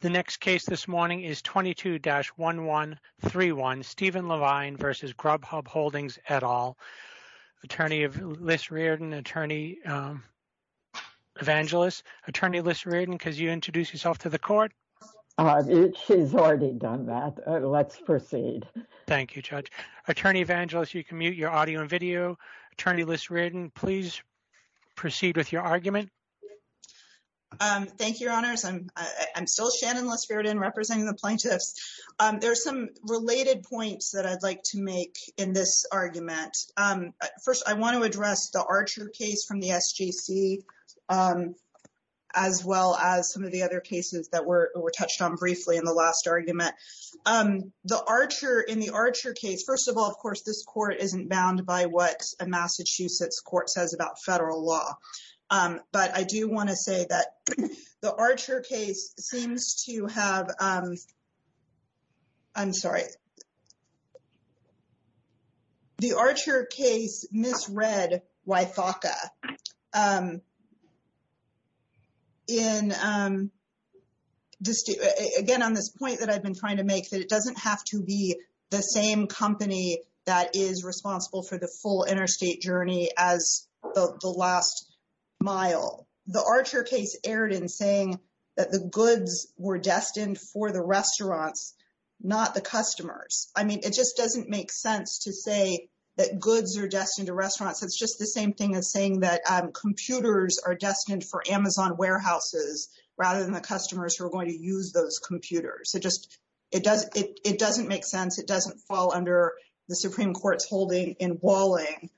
The next case this morning is 22-1131 Stephen Levine v. Grubhub Holdings, et al. Attorney Liz Reardon, Attorney Evangelist. Attorney Liz Reardon, could you introduce yourself to the court? She's already done that. Let's proceed. Thank you, Judge. Attorney Evangelist, you can mute your audio and video. Attorney Liz Reardon, please proceed with your argument. Thank you, Your Honors. I'm still Shannon Liz Reardon representing the plaintiffs. There's some related points that I'd like to make in this argument. First, I want to address the Archer case from the SJC as well as some of the other cases that were touched on briefly in the last argument. In the Archer case, first of all, of course, this court isn't bound by what a that it doesn't have to be the same company that is responsible for the full interstate journey as the last mile. The Archer case erred in saying that the goods were destined for the restaurants, not the customers. I mean, it just doesn't make sense to say that goods are destined to restaurants. It's just the same thing as saying that computers are destined for Amazon warehouses rather than the customers who are going to use those computers. It doesn't make sense. It doesn't fall under the Supreme Court's holding in Walling.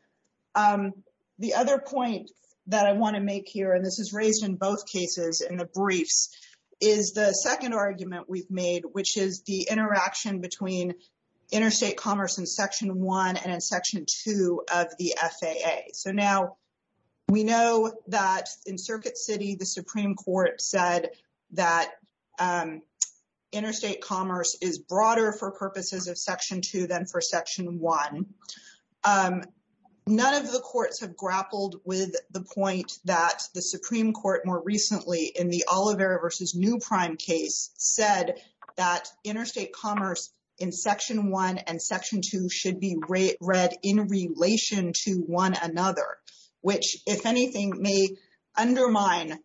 The other point that I want to make here, and this is raised in both cases in the briefs, is the second argument we've made, which is the interaction between interstate commerce in Section 1 and in Section 2 of the FAA. Now, we know that in Circuit City, the Supreme Court said that interstate commerce is broader for Section 2 than for Section 1. None of the courts have grappled with the point that the Supreme Court more recently in the Olivera v. New Prime case said that interstate commerce in Section 1 and Section 2 should be read in relation to one another, which, if anything, may undermine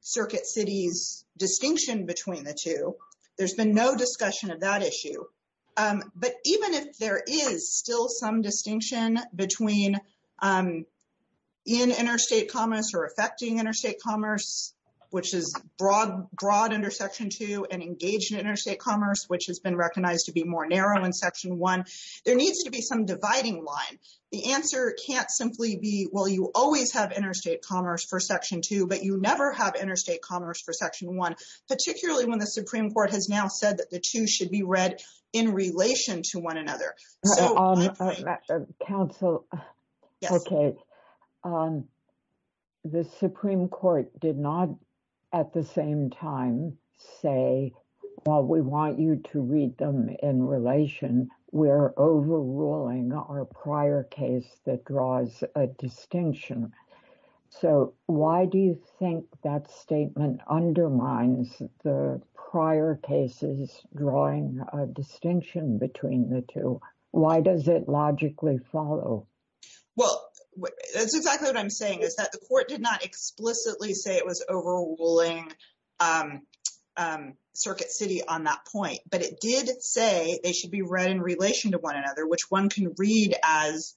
Circuit City's distinction between the two. There's been no discussion of that issue. But even if there is still some distinction between in interstate commerce or affecting interstate commerce, which is broad under Section 2, and engaged interstate commerce, which has been recognized to be more narrow in Section 1, there needs to be some dividing line. The answer can't simply be, well, you always have interstate commerce for Section 2, but you never have interstate commerce for Section 1, particularly when the Supreme Court has now said that the two should be read in relation to one another. So, my point— Counsel, okay. The Supreme Court did not, at the same time, say, well, we want you to read them in relation. We're overruling our prior case that draws a distinction. So, why do you think that statement undermines the prior cases drawing a distinction between the two? Why does it logically follow? Well, that's exactly what I'm saying, is that the Court did not explicitly say it was overruling Circuit City on that point, but it did say they should be read in relation to one another, which one can read as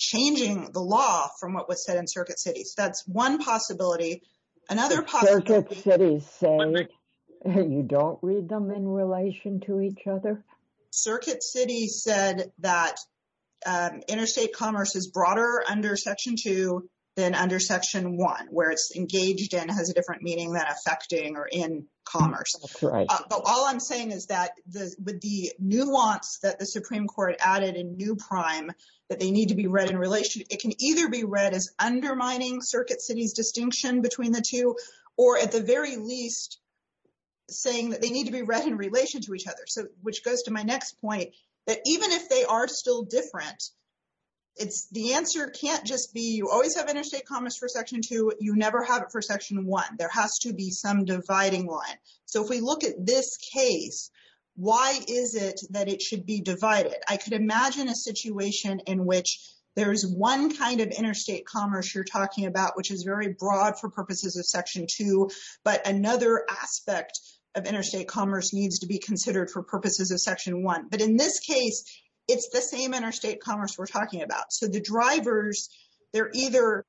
changing the law from what was said in Circuit City. So, that's one possibility. Another— Circuit City says you don't read them in relation to each other? Circuit City said that interstate commerce is broader under Section 2 than under Section 1, where it's engaged and has a different meaning than affecting or in commerce. That's right. But all I'm saying is that with the nuance that the Supreme Court added in new prime, that they need to be read in relation—it can either be read as undermining Circuit City's distinction between the two, or at the very least, saying that they need to be read in relation to each other, which goes to my next point, that even if they are still different, the answer can't just be you always have interstate commerce for Section 2, you never have it for Section 1. There has to be some dividing line. So, if we look at this case, why is it that it should be divided? I could imagine a situation in which there's one kind of interstate commerce you're talking about, which is very broad for purposes of Section 2, but another aspect of interstate commerce needs to be considered for purposes of Section 1. But in this case, it's the same interstate commerce we're talking about. So, the drivers, they're either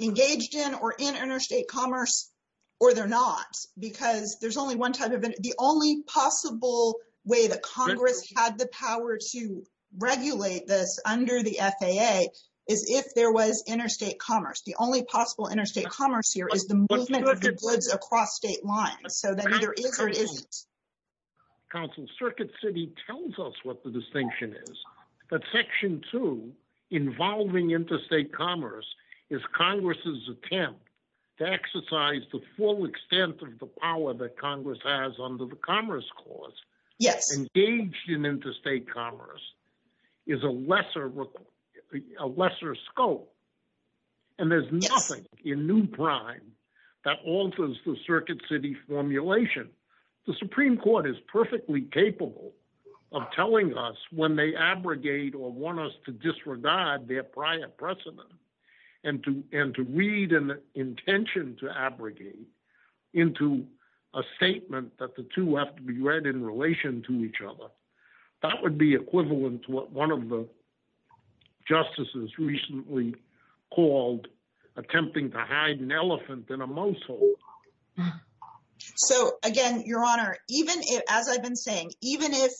engaged in or in interstate commerce, or they're not, because there's only one type of—the only possible way that Congress had the power to regulate this under the FAA is if there was interstate commerce. The only possible interstate commerce here is the movement of goods across state lines. So, that either is or it isn't. Counsel, Circuit City tells us what the distinction is, that Section 2, involving interstate commerce, is Congress's attempt to exercise the full extent of the power that Congress has under the Commerce Clause. Engaged in interstate commerce is a lesser scope, and there's nothing in new prime that alters the Circuit City formulation. The Supreme Court is perfectly capable of telling us when they abrogate or want us to disregard their prior precedent and to read an intention to abrogate into a statement that the two have to be read in relation to each other. That would be equivalent to what one of the justices recently called attempting to hide an elephant in a mousetrap. So, again, Your Honor, as I've been saying, even if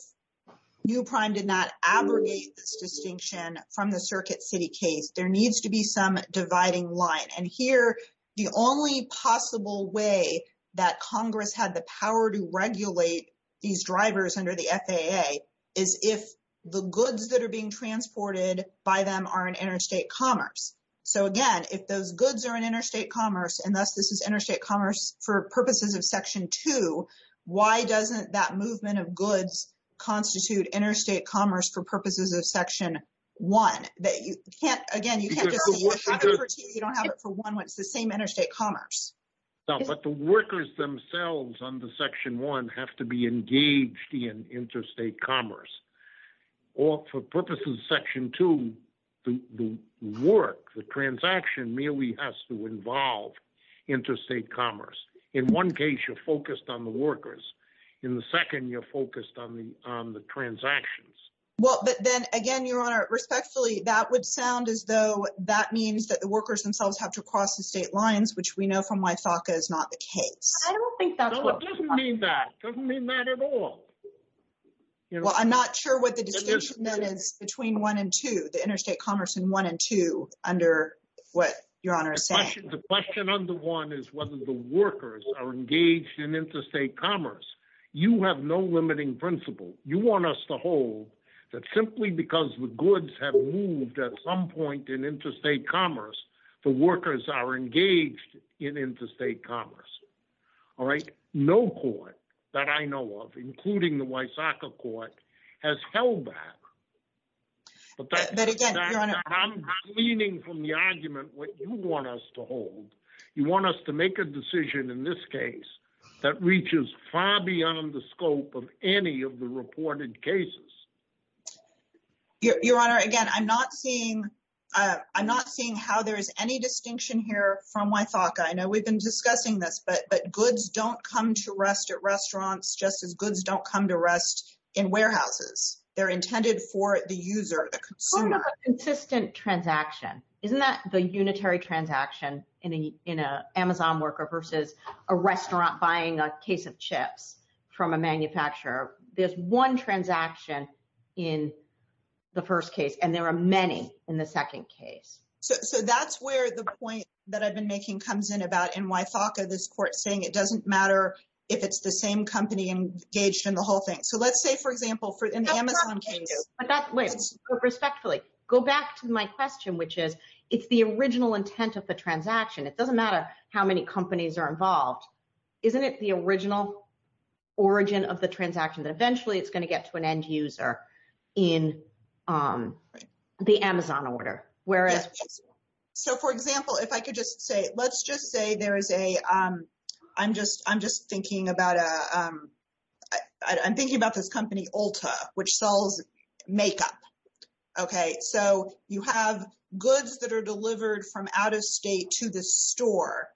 new prime did not abrogate this distinction from the Circuit City case, there needs to be some dividing line. And here, the only possible way that Congress had the power to regulate these drivers under the FAA is if the goods that are being transported by them are in interstate commerce. So, again, if those goods are in interstate commerce, and thus this is interstate commerce for purposes of Section 2, why doesn't that movement of goods constitute interstate commerce for purposes of Section 1? Again, you can't just say you don't have it for the same interstate commerce. No, but the workers themselves under Section 1 have to be engaged in interstate commerce. Or for purposes of Section 2, the work, the transaction merely has to involve interstate commerce. In one case, you're focused on the workers. In the second, you're focused on the transactions. Well, but then, again, Your Honor, respectfully, that would sound as though that means that the workers themselves have to cross the state lines, which we know from my FACA is not the case. I don't think that's what— No, it doesn't mean that. It doesn't mean that at all. Well, I'm not sure what the distinction then is between 1 and 2, the interstate commerce in 1 and 2, under what Your Honor is saying. The question under 1 is whether the workers are engaged in interstate commerce. You have no limiting principle. You want us to hold that simply because the goods have moved at some point in interstate commerce, the workers are engaged in interstate commerce. All right? No court that I know of, including the Wysocka Court, has held that. But that— But, again, Your Honor— I'm leaning from the argument what you want us to hold. You want us to make a decision in this case that reaches far beyond the scope of any of the reported cases. Your Honor, again, I'm not seeing—I'm not seeing how there is any distinction here from Wysocka. I know we've been discussing this, but goods don't come to rest at restaurants just as goods don't come to rest in warehouses. They're intended for the user, the consumer. What about consistent transaction? Isn't that the unitary transaction in an Amazon worker versus a restaurant buying a case of chips from a manufacturer? There's one transaction in the first case, and there are many in the second case. So that's where the point that I've been making comes in about in Wysocka, this court saying it doesn't matter if it's the same company engaged in the whole thing. So let's say, for example, in the Amazon case— No, but wait. Respectfully, go back to my question, which is, it's the original intent of the transaction. It doesn't matter how many companies are involved. Isn't it the original origin of the transaction that eventually it's going to get to an end user in the Amazon order? Yes. So, for example, if I could just say, let's just say there is a—I'm just thinking about a—I'm thinking about this company Ulta, which sells makeup. Okay. So you have goods that are delivered from out-of-state to the store,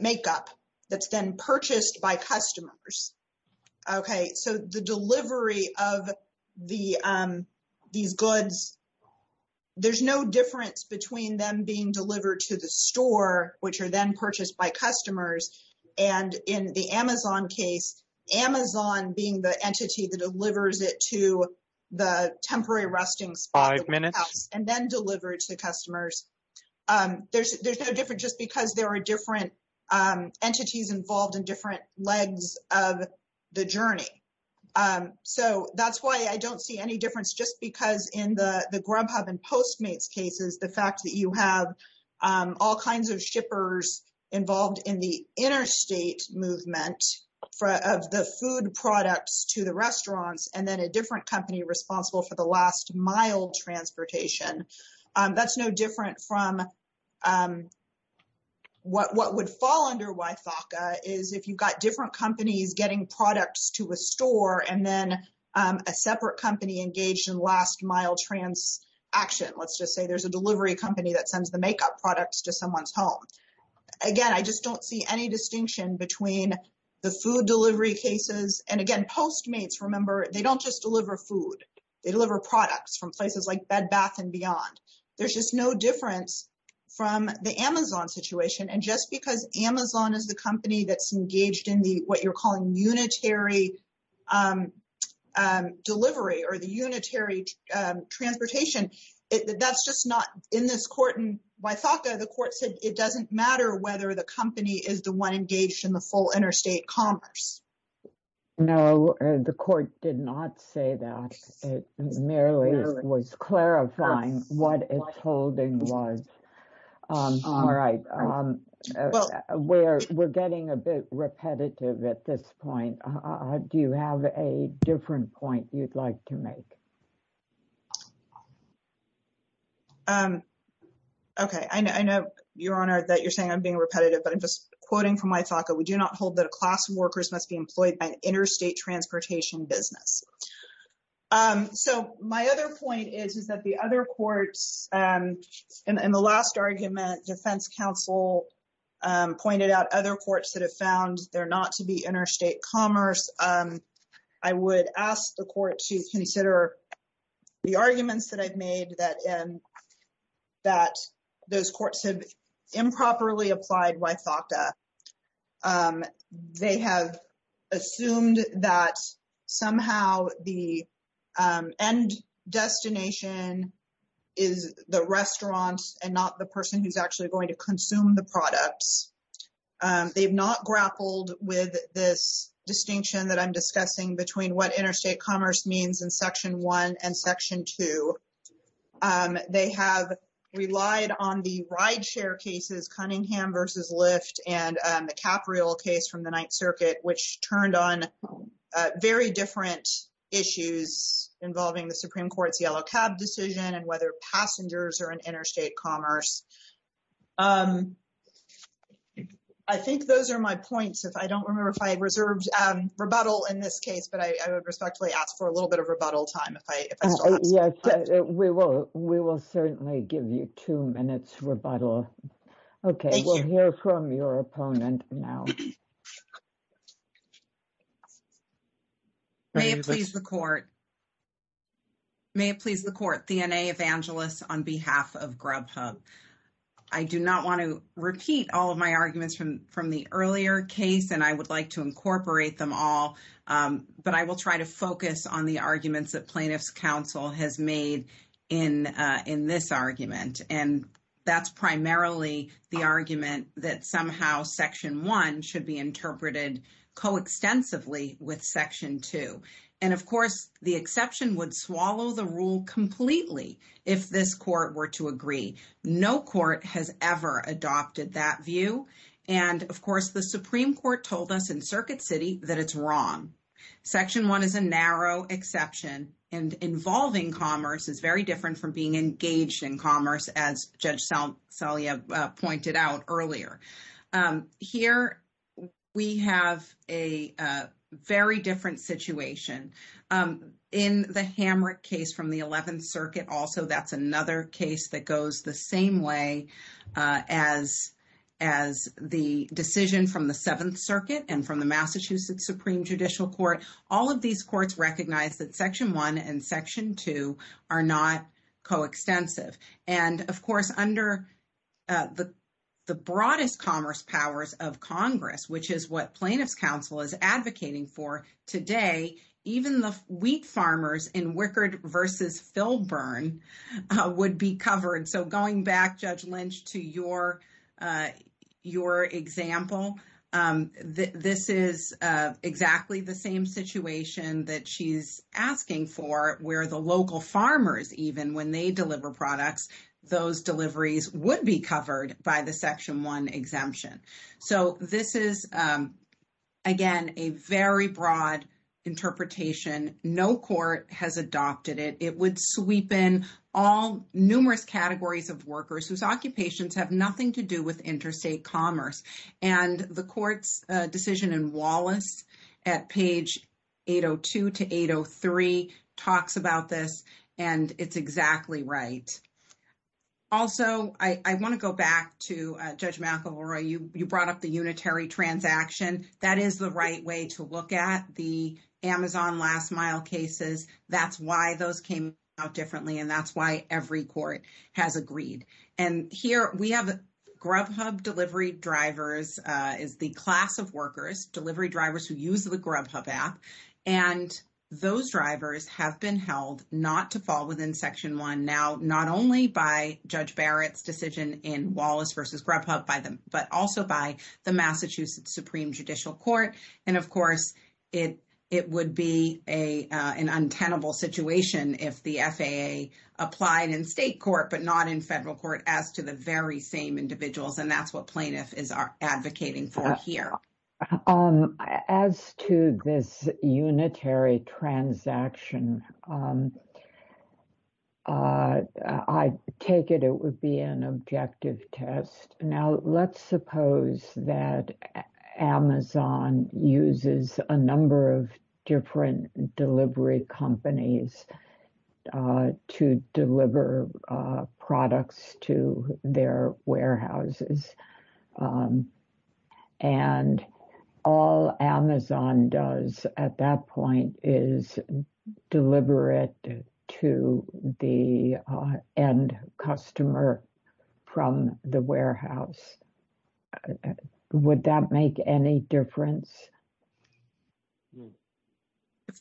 makeup, that's then purchased by customers. Okay. So the delivery of these goods, there's no difference between them being delivered to the store, which are then purchased by the store, and then delivered to the customers. There's no difference just because there are different entities involved in different legs of the journey. So that's why I don't see any difference just because in the Grubhub and Postmates cases, the fact that you have all kinds of shippers involved in the interstate movement of the food products to the restaurants, and then a different company responsible for the last-mile transportation, that's no different from what would fall under YFACA is if you've got different companies getting products to a store, and then a separate company engaged in last-mile transaction. Let's just say there's a delivery company that sends the makeup products to someone's home. Again, I just don't see any difference. They don't just deliver food. They deliver products from places like Bed Bath & Beyond. There's just no difference from the Amazon situation. And just because Amazon is the company that's engaged in what you're calling unitary delivery or the unitary transportation, that's just not in this court. In YFACA, the court said it doesn't matter whether the company is the one engaged in the full interstate commerce. No, the court did not say that. It merely was clarifying what its holding was. All right. We're getting a bit repetitive at this point. Do you have a different point you'd like to make? Okay. I know, Your Honor, that you're saying I'm being repetitive, but I'm just quoting from YFACA. We do not hold that a class of workers must be employed by an interstate transportation business. So my other point is that the other courts in the last argument, defense counsel pointed out other courts that have found there not to be interstate commerce. I would ask the court to consider the arguments that I've made that those courts have improperly applied YFACA. They have assumed that somehow the end destination is the restaurant and not the person who's actually going to consume the products. They've not grappled with this distinction that I'm discussing between what interstate commerce means in section one and section two. They have relied on the ride share cases, Cunningham versus Lyft and the Capriol case from the Ninth Circuit, which turned on very different issues involving the Supreme Court's yellow cab decision and whether passengers are in interstate commerce. I think those are my rebuttals in this case, but I would respectfully ask for a little bit of rebuttal time. Yes, we will certainly give you two minutes rebuttal. Okay, we'll hear from your opponent now. May it please the court. May it please the court, D.N.A. Evangelist on behalf of Grubhub. I do not want to repeat all of my arguments from the earlier case, and I would like to incorporate them all, but I will try to focus on the arguments that plaintiff's counsel has made in this argument. That's primarily the argument that somehow section one should be interpreted coextensively with section two. Of course, the exception would swallow the rule completely if this court were to agree. No court has ever adopted that view. Of course, the Supreme Court told us in Circuit City that it's wrong. Section one is a narrow exception, and involving commerce is very different from being engaged in commerce, as Judge Salia pointed out earlier. Here, we have a very different situation. In the Hamrick case from the Eleventh Circuit and from the Massachusetts Supreme Judicial Court, all of these courts recognize that section one and section two are not coextensive. Of course, under the broadest commerce powers of Congress, which is what plaintiff's counsel is advocating for today, even the wheat farmers in Wickard v. Filburn would be covered. Going back, Judge Lynch, to your example, this is exactly the same situation that she's asking for, where the local farmers, even when they deliver products, those deliveries would be covered by the section one exemption. This is, again, a very broad interpretation. No court has adopted it. It would sweep in numerous categories of workers whose occupations have nothing to do with interstate commerce. The court's decision in Wallace at page 802 to 803 talks about this, and it's exactly right. Also, I want to go back to Judge McElroy. You brought up the unitary transaction. That is the right way to look at the Amazon last mile cases. That's why those came out differently, and that's every court has agreed. Here, we have Grubhub delivery drivers as the class of workers, delivery drivers who use the Grubhub app. Those drivers have been held not to fall within section one now, not only by Judge Barrett's decision in Wallace v. Grubhub, but also by the Massachusetts Supreme Judicial Court. Of course, it would be an untenable situation if the FAA applied in state court but not in federal court as to the very same individuals. That's what plaintiff is advocating for here. As to this unitary transaction, I take it it would be an objective test. Let's suppose that Amazon uses a number of different delivery companies to deliver products to their warehouses. All Amazon does at that point is deliver it to the end customer from the warehouse. Would that make any difference?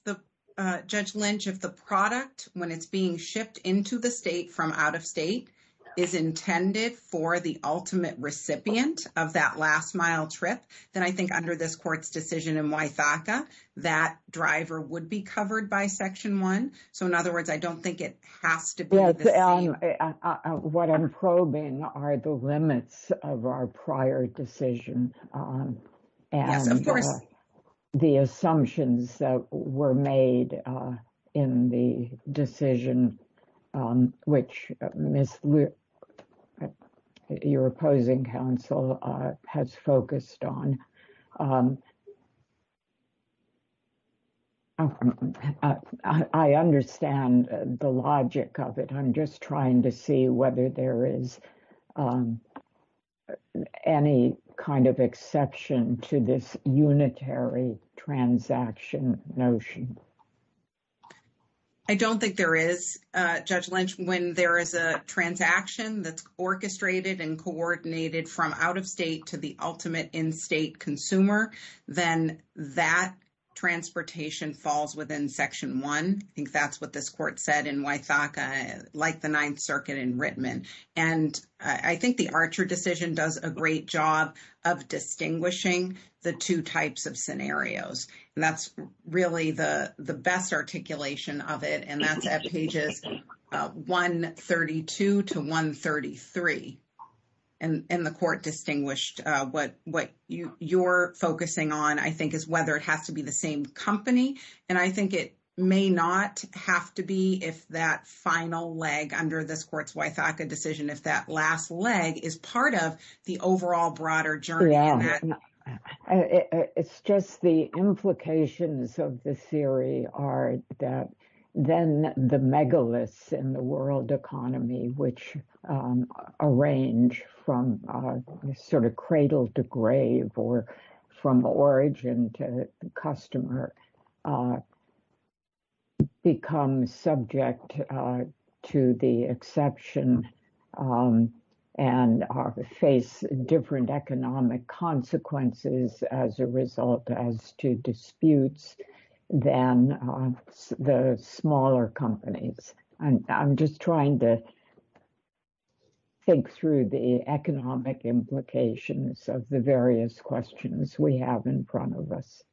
If Judge Lynch, if the product, when it's being shipped into the state from out of state, is intended for the ultimate recipient of that last mile trip, then I think under this I don't think it has to be the same. What I'm probing are the limits of our prior decision. The assumptions that were made in the decision which your opposing counsel has focused on. I understand the logic of it. I'm just trying to see whether there is any kind of exception to this unitary transaction notion. I don't think there is, Judge Lynch, when there is a transaction that's orchestrated and is intended for the state consumer, then that transportation falls within Section 1. I think that's what this court said in Wythaka, like the Ninth Circuit in Rittman. I think the Archer decision does a great job of distinguishing the two types of scenarios. That's really the best articulation of it. That's at pages 132 to 133. The court distinguished what you're focusing on, I think, is whether it has to be the same company. I think it may not have to be if that final leg under this court's Wythaka decision, if that last leg is part of the overall broader journey. It's just the implications of this theory are that then the megaliths in the world economy, which arrange from cradle to grave or from origin to customer, become subject to the exception and face different economic consequences as a result as to disputes than the smaller companies. I'm just trying to think through the economic implications of the various questions we have in front of us.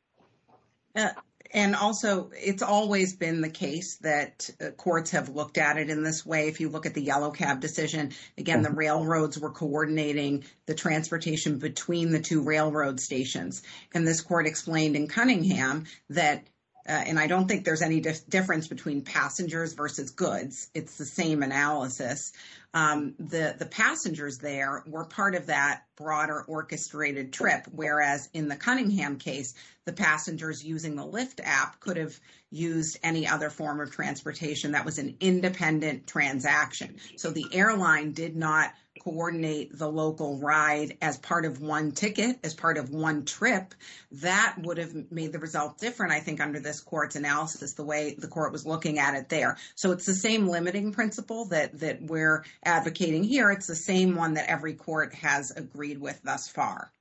Also, it's always been the case that courts have looked at it in this way. If you look at the Yellow Cab decision, again, the railroads were coordinating the transportation between the railroad stations. This court explained in Cunningham that, and I don't think there's any difference between passengers versus goods. It's the same analysis. The passengers there were part of that broader orchestrated trip, whereas in the Cunningham case, the passengers using the Lyft app could have used any other form of transportation that was an independent transaction. The airline did not coordinate the local ride as part of one ticket, as part of one trip. That would have made the result different, I think, under this court's analysis, the way the court was looking at it there. It's the same limiting principle that we're advocating here. It's the same one that every court has agreed with thus far.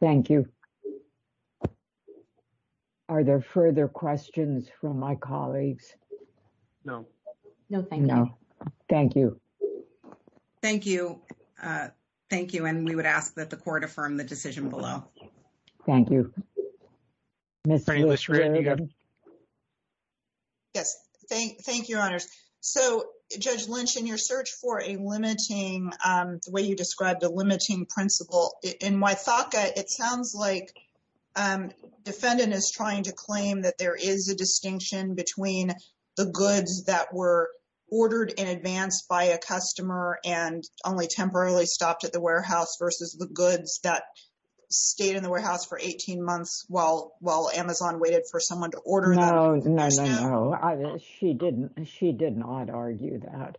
Thank you. Are there further questions from my colleagues? No. Thank you. Thank you. We would ask that the court affirm the decision below. Thank you. Yes. Thank you, Your Honors. Judge Lynch, in your search for a limiting, the way you described a limiting principle, in Wythaka, it sounds like defendant is trying to claim that there is a the goods that were ordered in advance by a customer and only temporarily stopped at the warehouse versus the goods that stayed in the warehouse for 18 months while Amazon waited for someone to order them. No, no, no. She did not argue that.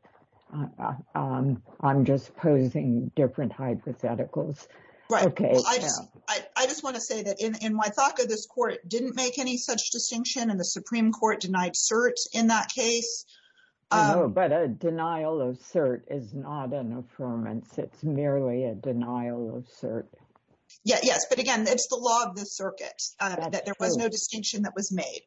I'm just posing different hypotheticals. Right. I just want to say that in Wythaka, this court didn't make any such distinction, and the Supreme Court denied cert in that case. But a denial of cert is not an affirmance. It's merely a denial of cert. Yeah, yes. But again, it's the law of the circuit that there was no distinction that was made.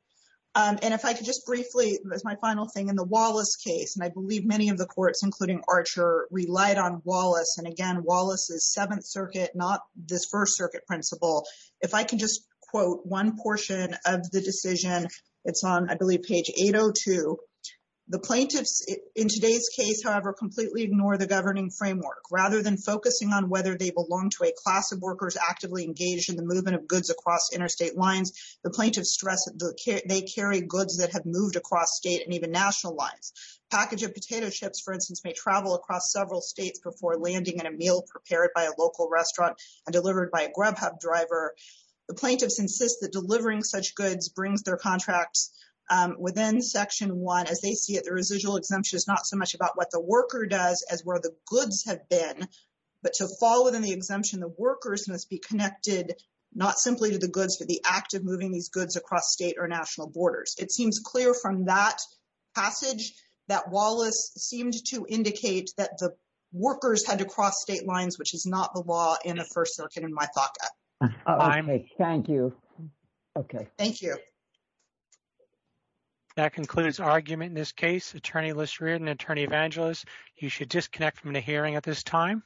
And if I could just briefly, as my final thing, in the Wallace case, and I believe many of the courts, including Archer, relied on Wallace. And again, Wallace's Seventh Circuit, not this First Circuit principle. If I can just quote one portion of the decision, it's on, I believe, page 802. The plaintiffs, in today's case, however, completely ignore the governing framework. Rather than focusing on whether they belong to a class of workers actively engaged in the movement of goods across interstate lines, the plaintiffs stress that they carry goods that have moved across state and even national lines. Package of potato chips, for instance, may travel across several states before landing in a meal prepared by a local restaurant and delivered by a Grubhub driver. The plaintiffs insist that delivering such goods brings their contracts within Section 1. As they see it, the residual exemption is not so much about what the worker does as where the goods have been. But to fall within the exemption, the workers must be connected not simply to the goods, but the act of moving these goods across state or national borders. It seems clear from that passage that Wallace seemed to indicate that the workers had to cross state lines, which is not the law in the First Circuit, in my thought. Thank you. Okay. Thank you. That concludes our argument in this case. Attorney Lisserer and Attorney Evangelos, you should disconnect from the hearing at this time.